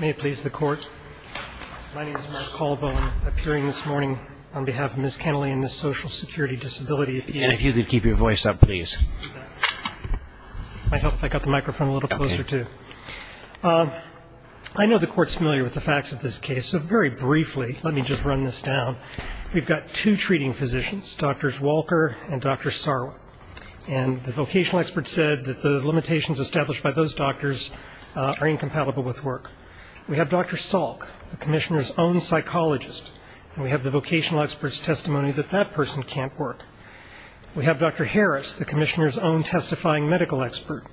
I know the Court is familiar with the facts of this case, so very briefly, let me just run this down. We've got two treating physicians, Drs. Walker and Dr. Sarwa, and the vocational experts said that the limitations established by those doctors are incompatible with work-life balance. We have Dr. Salk, the Commissioner's own psychologist, and we have the vocational experts' testimony that that person can't work. We have Dr. Harris, the Commissioner's own testifying medical expert,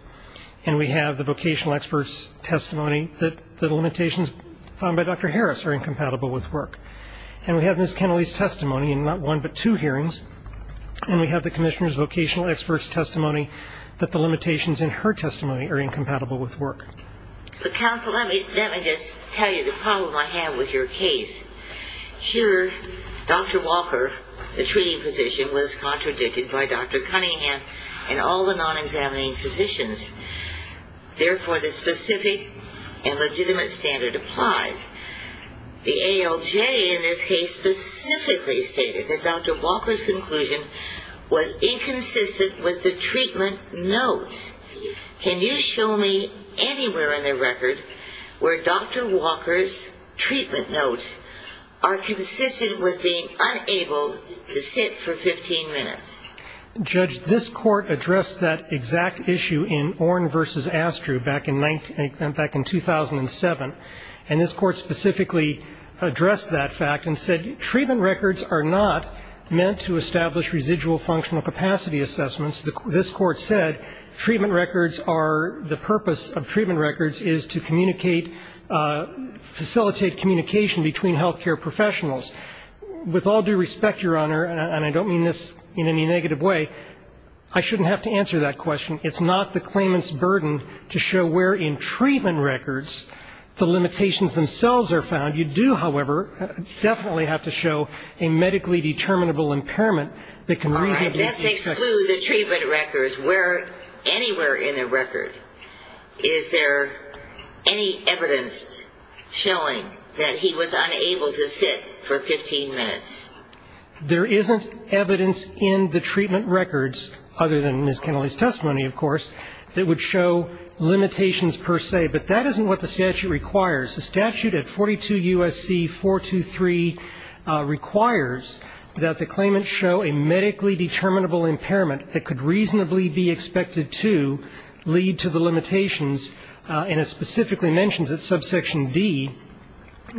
and we have the vocational experts' testimony that the limitations found by Dr. Harris are incompatible with work. And we have Ms. Kennelly's testimony in not one but two hearings, and we have the Commissioner's vocational experts' testimony that the limitations in her testimony are incompatible with work. But counsel, let me just tell you the problem I have with your case. Here, Dr. Walker, the treating physician, was contradicted by Dr. Cunningham and all the non-examining physicians. Therefore, the specific and legitimate standard applies. The ALJ in this case specifically stated that Dr. Walker's conclusion was inconsistent with the treatment notes. Can you show me anywhere in the record where Dr. Walker's treatment notes are consistent with being unable to sit for 15 minutes? Judge, this Court addressed that exact issue in Oren v. Astru back in 2007, and this Court specifically addressed that fact and said treatment records are not meant to establish residual functional capacity assessments. This Court said treatment records are the purpose of treatment records is to communicate, facilitate communication between health care professionals. With all due respect, Your Honor, and I don't mean this in any negative way, I shouldn't have to answer that question. It's not the claimant's burden to show where in treatment records the limitations themselves are found. You do, however, definitely have to show a medically determinable impairment that can really be a key section. Through the treatment records, where anywhere in the record is there any evidence showing that he was unable to sit for 15 minutes? There isn't evidence in the treatment records, other than Ms. Kennelly's testimony, of course, that would show limitations per se. But that isn't what the statute requires. The statute at 42 U.S.C. 423 requires that the claimant show a medically determinable impairment that could reasonably be expected to lead to the limitations. And it specifically mentions at subsection D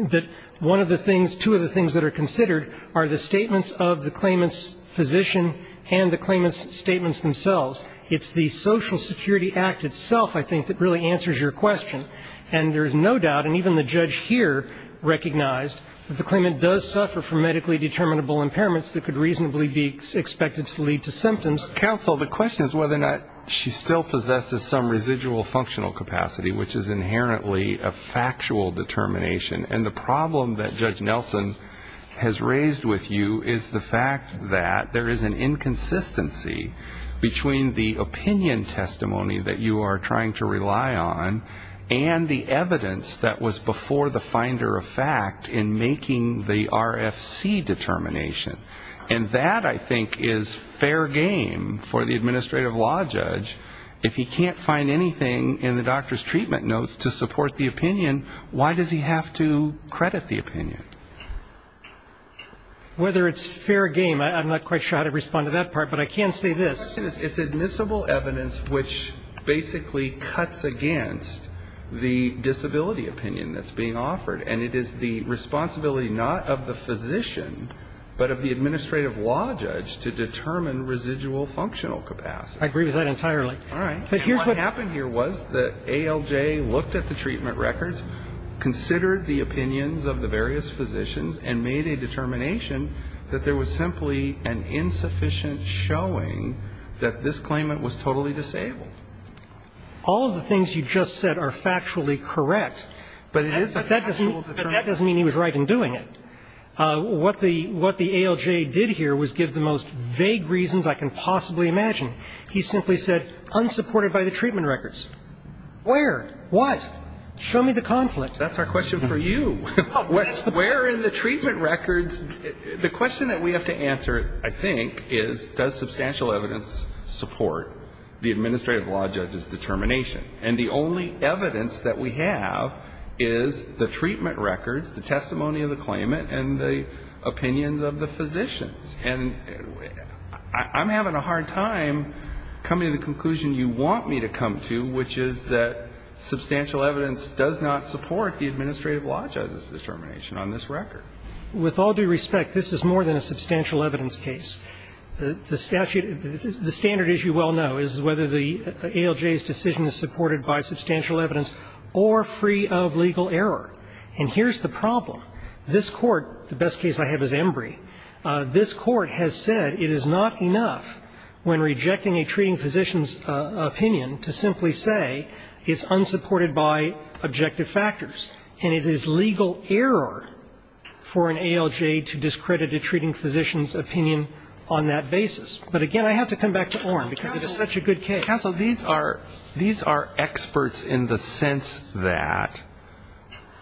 that one of the things, two of the things that are considered are the statements of the claimant's physician and the claimant's statements themselves. It's the Social Security Act itself, I think, that really answers your question. And there is no doubt, and even the judge here recognized, that the claimant does suffer from medically determinable impairments that could reasonably be expected to lead to symptoms. Counsel, the question is whether or not she still possesses some residual functional capacity, which is inherently a factual determination. And the problem that Judge Nelson has raised with you is the fact that there is an inconsistency between the opinion testimony that you are trying to rely on and the evidence that was before the finder of fact in making the RFC determination. And that, I think, is fair game for the administrative law judge. If he can't find anything in the doctor's treatment notes to support the opinion, why does he have to credit the opinion? Whether it's fair game, I'm not quite sure how to respond to that part, but I can say this. It's admissible evidence which basically cuts against the disability opinion that's being offered. And it is the responsibility not of the physician, but of the administrative law judge, to determine residual functional capacity. I agree with that entirely. All right. And what happened here was that ALJ looked at the treatment records, considered the opinions of the various physicians, and made a determination that there was simply an insufficient showing that this claimant was totally disabled. All of the things you just said are factually correct. But it is a factual determination. That doesn't mean he was right in doing it. What the ALJ did here was give the most vague reasons I can possibly imagine. He simply said, unsupported by the treatment records. Where? What? Show me the conflict. That's our question for you. Where in the treatment records? The question that we have to answer, I think, is does substantial evidence support the administrative law judge's determination? And the only evidence that we have is the treatment records, the testimony of the claimant, and the opinions of the physicians. And I'm having a hard time coming to the conclusion you want me to come to, which is that substantial evidence does not support the administrative law judge's determination on this record. With all due respect, this is more than a substantial evidence case. The statute, the standard, as you well know, is whether the ALJ's decision is supported by substantial evidence or free of legal error. And here's the problem. This Court, the best case I have is Embry, this Court has said it is not enough when rejecting a treating physician's opinion to simply say it's unsupported by objective factors. And it is legal error for an ALJ to discredit a treating physician's opinion on that basis. But, again, I have to come back to Oren because it is such a good case. Counsel, these are experts in the sense that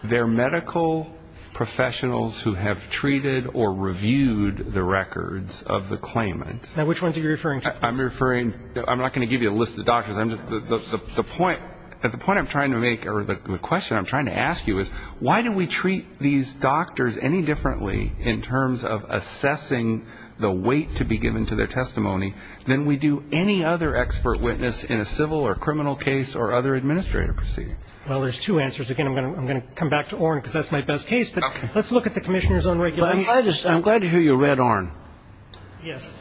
they're medical professionals who have treated or reviewed the records of the claimant. Now, which ones are you referring to? I'm not going to give you a list of doctors. The point I'm trying to make or the question I'm trying to ask you is, why do we treat these doctors any differently in terms of assessing the weight to be given to their testimony than we do any other expert witness in a civil or criminal case or other administrative proceeding? Well, there's two answers. Again, I'm going to come back to Oren because that's my best case. But let's look at the Commissioner's own record. I'm glad to hear you read Oren. Yes.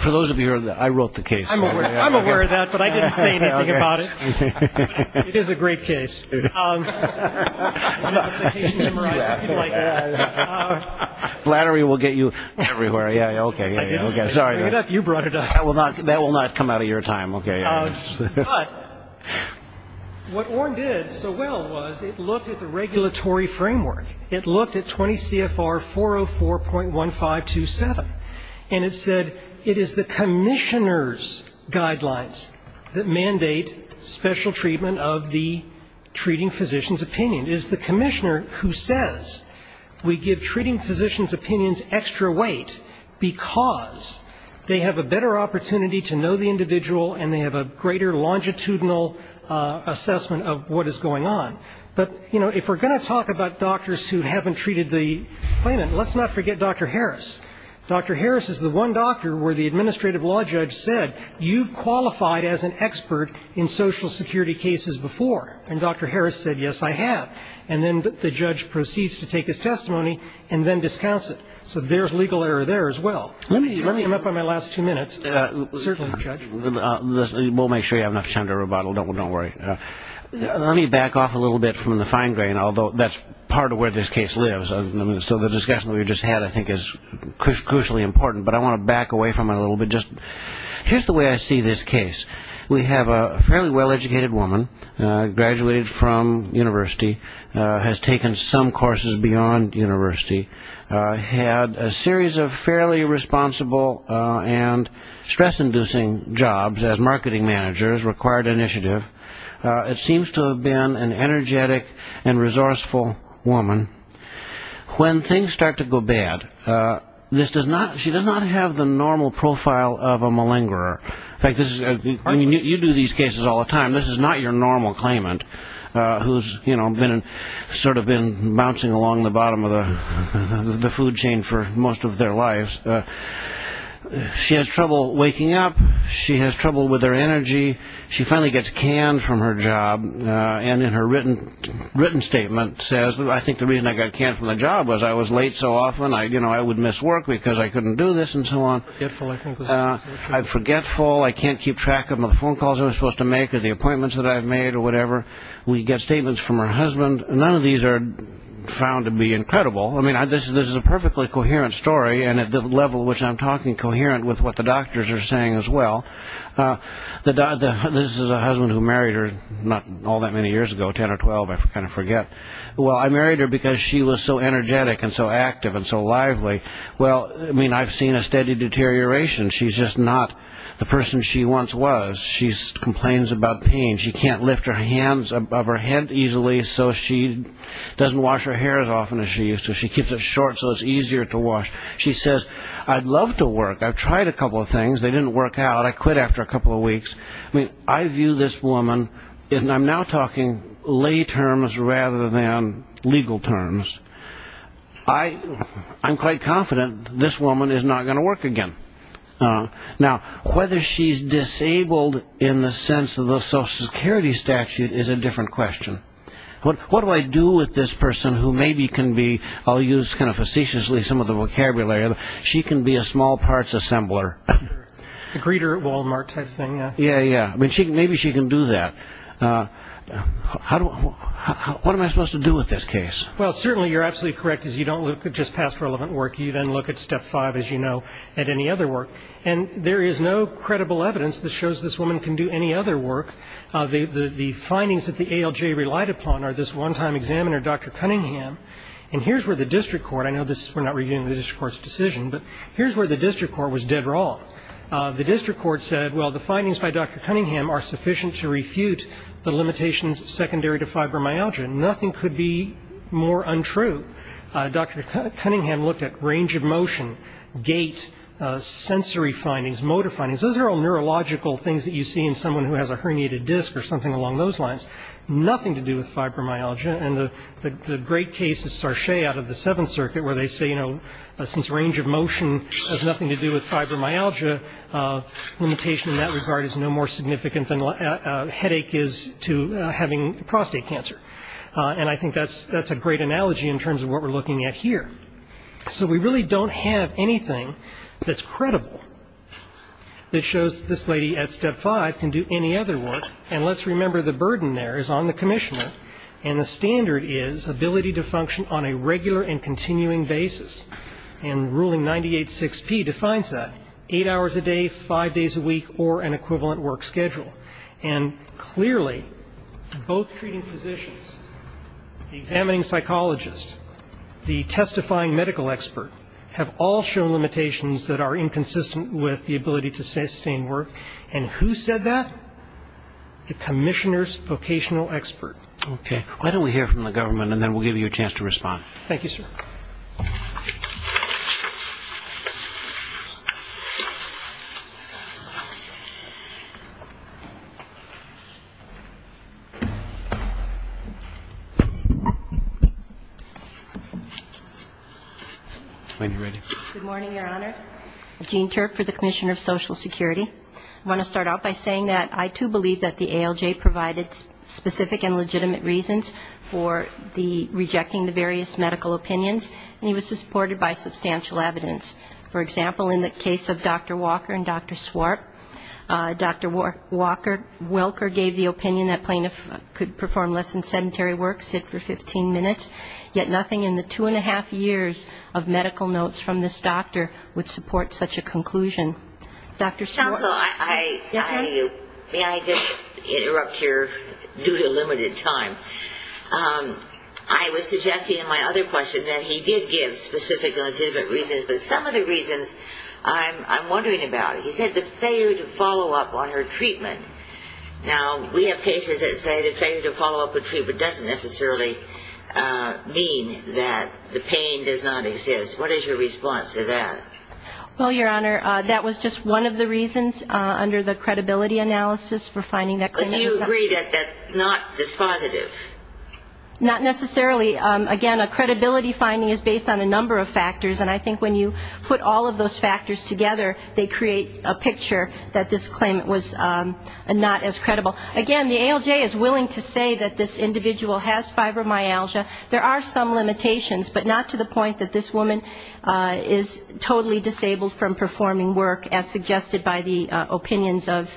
For those of you who heard that, I wrote the case. I'm aware of that, but I didn't say anything about it. It is a great case. Flattery will get you everywhere. Yeah, okay. Sorry. You brought it up. That will not come out of your time. Okay. But what Oren did so well was it looked at the regulatory framework. It looked at 20 CFR 404.1527. And it said it is the Commissioner's guidelines that mandate special treatment of the treating physician's opinion. It is the Commissioner who says we give treating physician's opinions extra weight because they have a better opportunity to know the individual and they have a greater longitudinal assessment of what is going on. But, you know, if we're going to talk about doctors who haven't treated the claimant, let's not forget Dr. Harris. Dr. Harris is the one doctor where the administrative law judge said, you've qualified as an expert in Social Security cases before. And Dr. Harris said, yes, I have. And then the judge proceeds to take his testimony and then discounts it. So there's legal error there as well. Let me come up on my last two minutes. Certainly, Judge. We'll make sure you have enough time to rebuttal. Don't worry. Let me back off a little bit from the fine grain, although that's part of where this case lives. So the discussion we just had, I think, is crucially important. But I want to back away from it a little bit. Here's the way I see this case. We have a fairly well-educated woman, graduated from university, has taken some courses beyond university, had a series of fairly responsible and stress-inducing jobs as marketing managers, required initiative. It seems to have been an energetic and resourceful woman. When things start to go bad, she does not have the normal profile of a malingerer. In fact, you do these cases all the time. This is not your normal claimant who's sort of been bouncing along the bottom of the food chain for most of their lives. She has trouble waking up. She has trouble with her energy. She finally gets canned from her job. And in her written statement says, I think the reason I got canned from my job was I was late so often. I would miss work because I couldn't do this and so on. I'm forgetful. I can't keep track of my phone calls I'm supposed to make or the appointments that I've made or whatever. We get statements from her husband. None of these are found to be incredible. I mean, this is a perfectly coherent story, and at the level at which I'm talking, coherent with what the doctors are saying as well. This is a husband who married her not all that many years ago, 10 or 12, I kind of forget. Well, I married her because she was so energetic and so active and so lively. Well, I mean, I've seen a steady deterioration. She's just not the person she once was. She complains about pain. She can't lift her hands above her head easily, so she doesn't wash her hair as often as she used to. She keeps it short so it's easier to wash. She says, I'd love to work. I've tried a couple of things. They didn't work out. I quit after a couple of weeks. I mean, I view this woman, and I'm now talking lay terms rather than legal terms. I'm quite confident this woman is not going to work again. Now, whether she's disabled in the sense of the Social Security statute is a different question. What do I do with this person who maybe can be, I'll use kind of facetiously some of the vocabulary, she can be a small parts assembler. A greeter at Walmart type thing. Yeah, yeah. I mean, maybe she can do that. What am I supposed to do with this case? Well, certainly you're absolutely correct is you don't look at just past relevant work. You then look at step five, as you know, at any other work. And there is no credible evidence that shows this woman can do any other work. The findings that the ALJ relied upon are this one-time examiner, Dr. Cunningham. And here's where the district court, I know we're not reviewing the district court's decision, but here's where the district court was dead wrong. The district court said, well, the findings by Dr. Cunningham are sufficient to refute the limitations secondary to fibromyalgia. Nothing could be more untrue. Dr. Cunningham looked at range of motion, gait, sensory findings, motor findings. Those are all neurological things that you see in someone who has a herniated disc or something along those lines. Nothing to do with fibromyalgia. And the great case is Sarchet out of the Seventh Circuit where they say, you know, since range of motion has nothing to do with fibromyalgia, limitation in that regard is no more significant than headache is to having prostate cancer. And I think that's a great analogy in terms of what we're looking at here. So we really don't have anything that's credible that shows this lady at step five can do any other work. And let's remember the burden there is on the commissioner. And the standard is ability to function on a regular and continuing basis. And Ruling 98-6P defines that, eight hours a day, five days a week, or an equivalent work schedule. And clearly, both treating physicians, the examining psychologist, the testifying medical expert, have all shown limitations that are inconsistent with the ability to sustain work. And who said that? The commissioner's vocational expert. Okay. Why don't we hear from the government and then we'll give you a chance to respond. Thank you, sir. Good morning, Your Honors. Gene Turk for the Commissioner of Social Security. I want to start out by saying that I, too, believe that the ALJ provided specific and legitimate reasons for the rejecting the various medical opinions. And he was supported by substantial evidence. For example, in the case of Dr. Walker and Dr. Swart, Dr. Walker gave the opinion that plaintiffs could perform less than sedentary work, sit for 15 minutes, yet nothing in the two and a half years of medical notes from this doctor would support such a conclusion. Dr. Swart. May I just interrupt here due to limited time? I was suggesting in my other question that he did give specific and legitimate reasons, but some of the reasons I'm wondering about, he said the failure to follow up on her treatment. Now, we have cases that say the failure to follow up a treatment doesn't necessarily mean that the pain does not exist. What is your response to that? Well, Your Honor, that was just one of the reasons under the credibility analysis for finding that claimant. But do you agree that that's not dispositive? Not necessarily. Again, a credibility finding is based on a number of factors. And I think when you put all of those factors together, they create a picture that this claimant was not as credible. Again, the ALJ is willing to say that this individual has fibromyalgia. There are some limitations, but not to the point that this woman is totally disabled from performing work, as suggested by the opinions of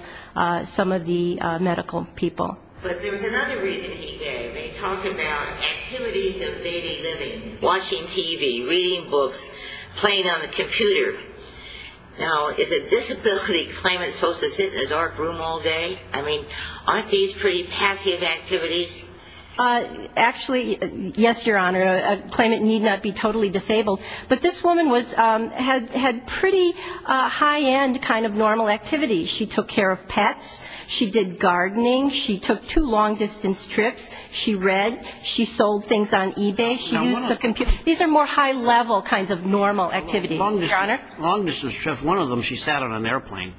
some of the medical people. But there was another reason he gave, and he talked about activities of daily living, watching TV, reading books, playing on the computer. Now, is a disability claimant supposed to sit in a dark room all day? I mean, aren't these pretty passive activities? Actually, yes, Your Honor. A claimant need not be totally disabled. But this woman had pretty high-end kind of normal activities. She took care of pets. She did gardening. She took two long-distance trips. She read. She sold things on eBay. She used the computer. These are more high-level kinds of normal activities, Your Honor. Long-distance trips. One of them, she sat on an airplane,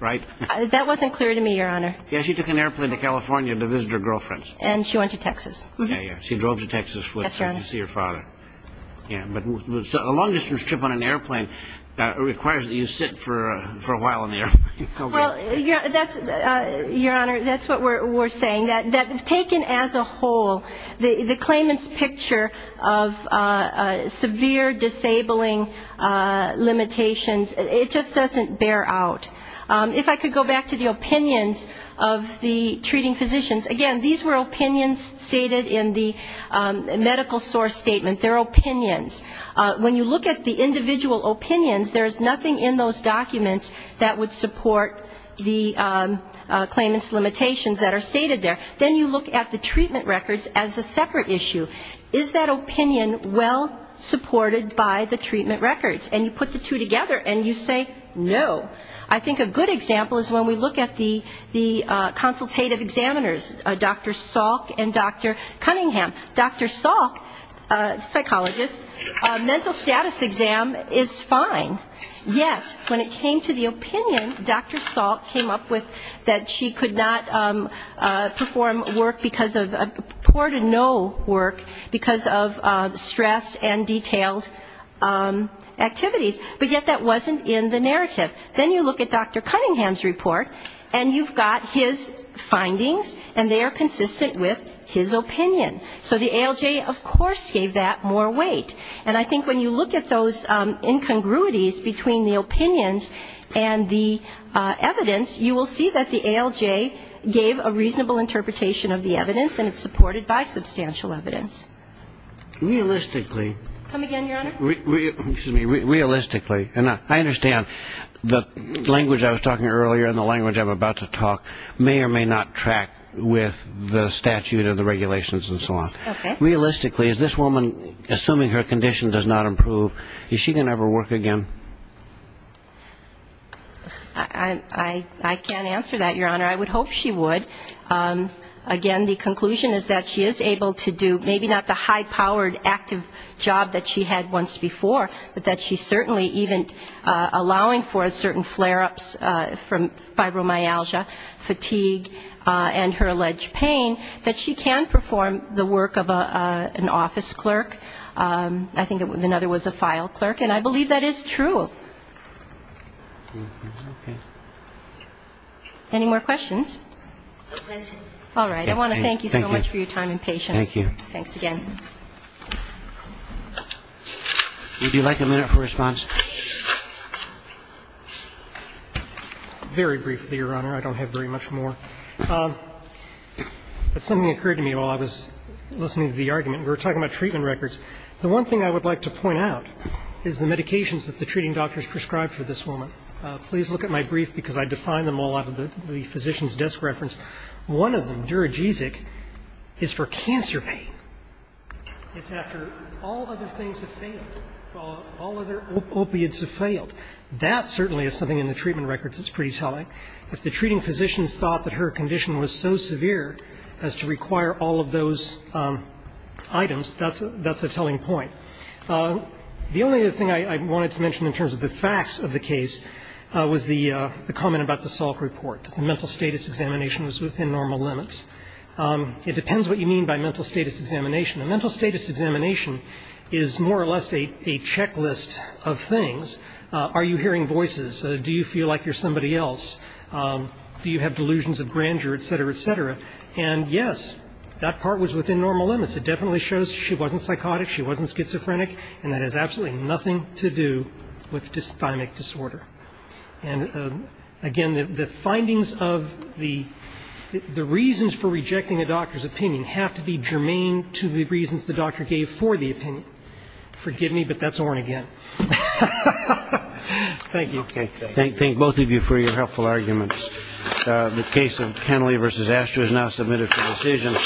right? That wasn't clear to me, Your Honor. Yes, she took an airplane to California to visit her girlfriends. And she went to Texas. Yeah, yeah. She drove to Texas to see her father. Yeah, but a long-distance trip on an airplane requires that you sit for a while on the airplane. Well, Your Honor, that's what we're saying, that taken as a whole, the claimant's picture of severe disabling limitations, it just doesn't bear out. If I could go back to the opinions of the treating physicians. Again, these were opinions stated in the medical source statement. They're opinions. When you look at the individual opinions, there is nothing in those documents that would support the claimant's limitations that are stated there. Then you look at the treatment records as a separate issue. Is that opinion well supported by the treatment records? And you put the two together, and you say no. I think a good example is when we look at the consultative examiners, Dr. Salk and Dr. Cunningham. Dr. Salk, psychologist, mental status exam is fine. Yes, when it came to the opinion, Dr. Salk came up with that she could not perform work because of stress and detailed activities. But yet that wasn't in the narrative. Then you look at Dr. Cunningham's report, and you've got his findings, and they are consistent with his opinion. So the ALJ, of course, gave that more weight. And I think when you look at those incongruities between the opinions and the evidence, you will see that the ALJ gave a reasonable interpretation of the evidence, and it's supported by substantial evidence. Realistically. Come again, Your Honor? Realistically. And I understand the language I was talking earlier and the language I'm about to talk may or may not track with the statute of the regulations and so on. Okay. Realistically, is this woman, assuming her condition does not improve, is she going to ever work again? I can't answer that, Your Honor. I would hope she would. Again, the conclusion is that she is able to do maybe not the high-powered active job that she had once before, but that she certainly even allowing for certain flare-ups from fibromyalgia, fatigue, and her alleged pain, that she can perform the work of an office clerk. I think another was a file clerk. And I believe that is true. Okay. Any more questions? No questions. All right. I want to thank you so much for your time and patience. Thank you. Thanks again. Would you like a minute for response? Very briefly, Your Honor. I don't have very much more. But something occurred to me while I was listening to the argument. We were talking about treatment records. The one thing I would like to point out is the medications that the treating doctors prescribed for this woman. Please look at my brief, because I defined them all out of the physician's desk reference. One of them, duragesic, is for cancer pain. It's after all other things have failed, all other opiates have failed. That certainly is something in the treatment records that's pretty telling. If the treating physicians thought that her condition was so severe as to require all of those items, that's a telling point. The only other thing I wanted to mention in terms of the facts of the case was the comment about the Salk report, that the mental status examination was within normal limits. It depends what you mean by mental status examination. A mental status examination is more or less a checklist of things. Are you hearing voices? Do you feel like you're somebody else? Do you have delusions of grandeur, et cetera, et cetera? And, yes, that part was within normal limits. It definitely shows she wasn't psychotic, she wasn't schizophrenic, and that has absolutely nothing to do with dysthymic disorder. And, again, the findings of the reasons for rejecting a doctor's opinion have to be germane to the reasons the doctor gave for the opinion. Forgive me, but that's Orn again. Thank you. Thank both of you for your helpful arguments. The case of Henley v. Aschew is now submitted for decision.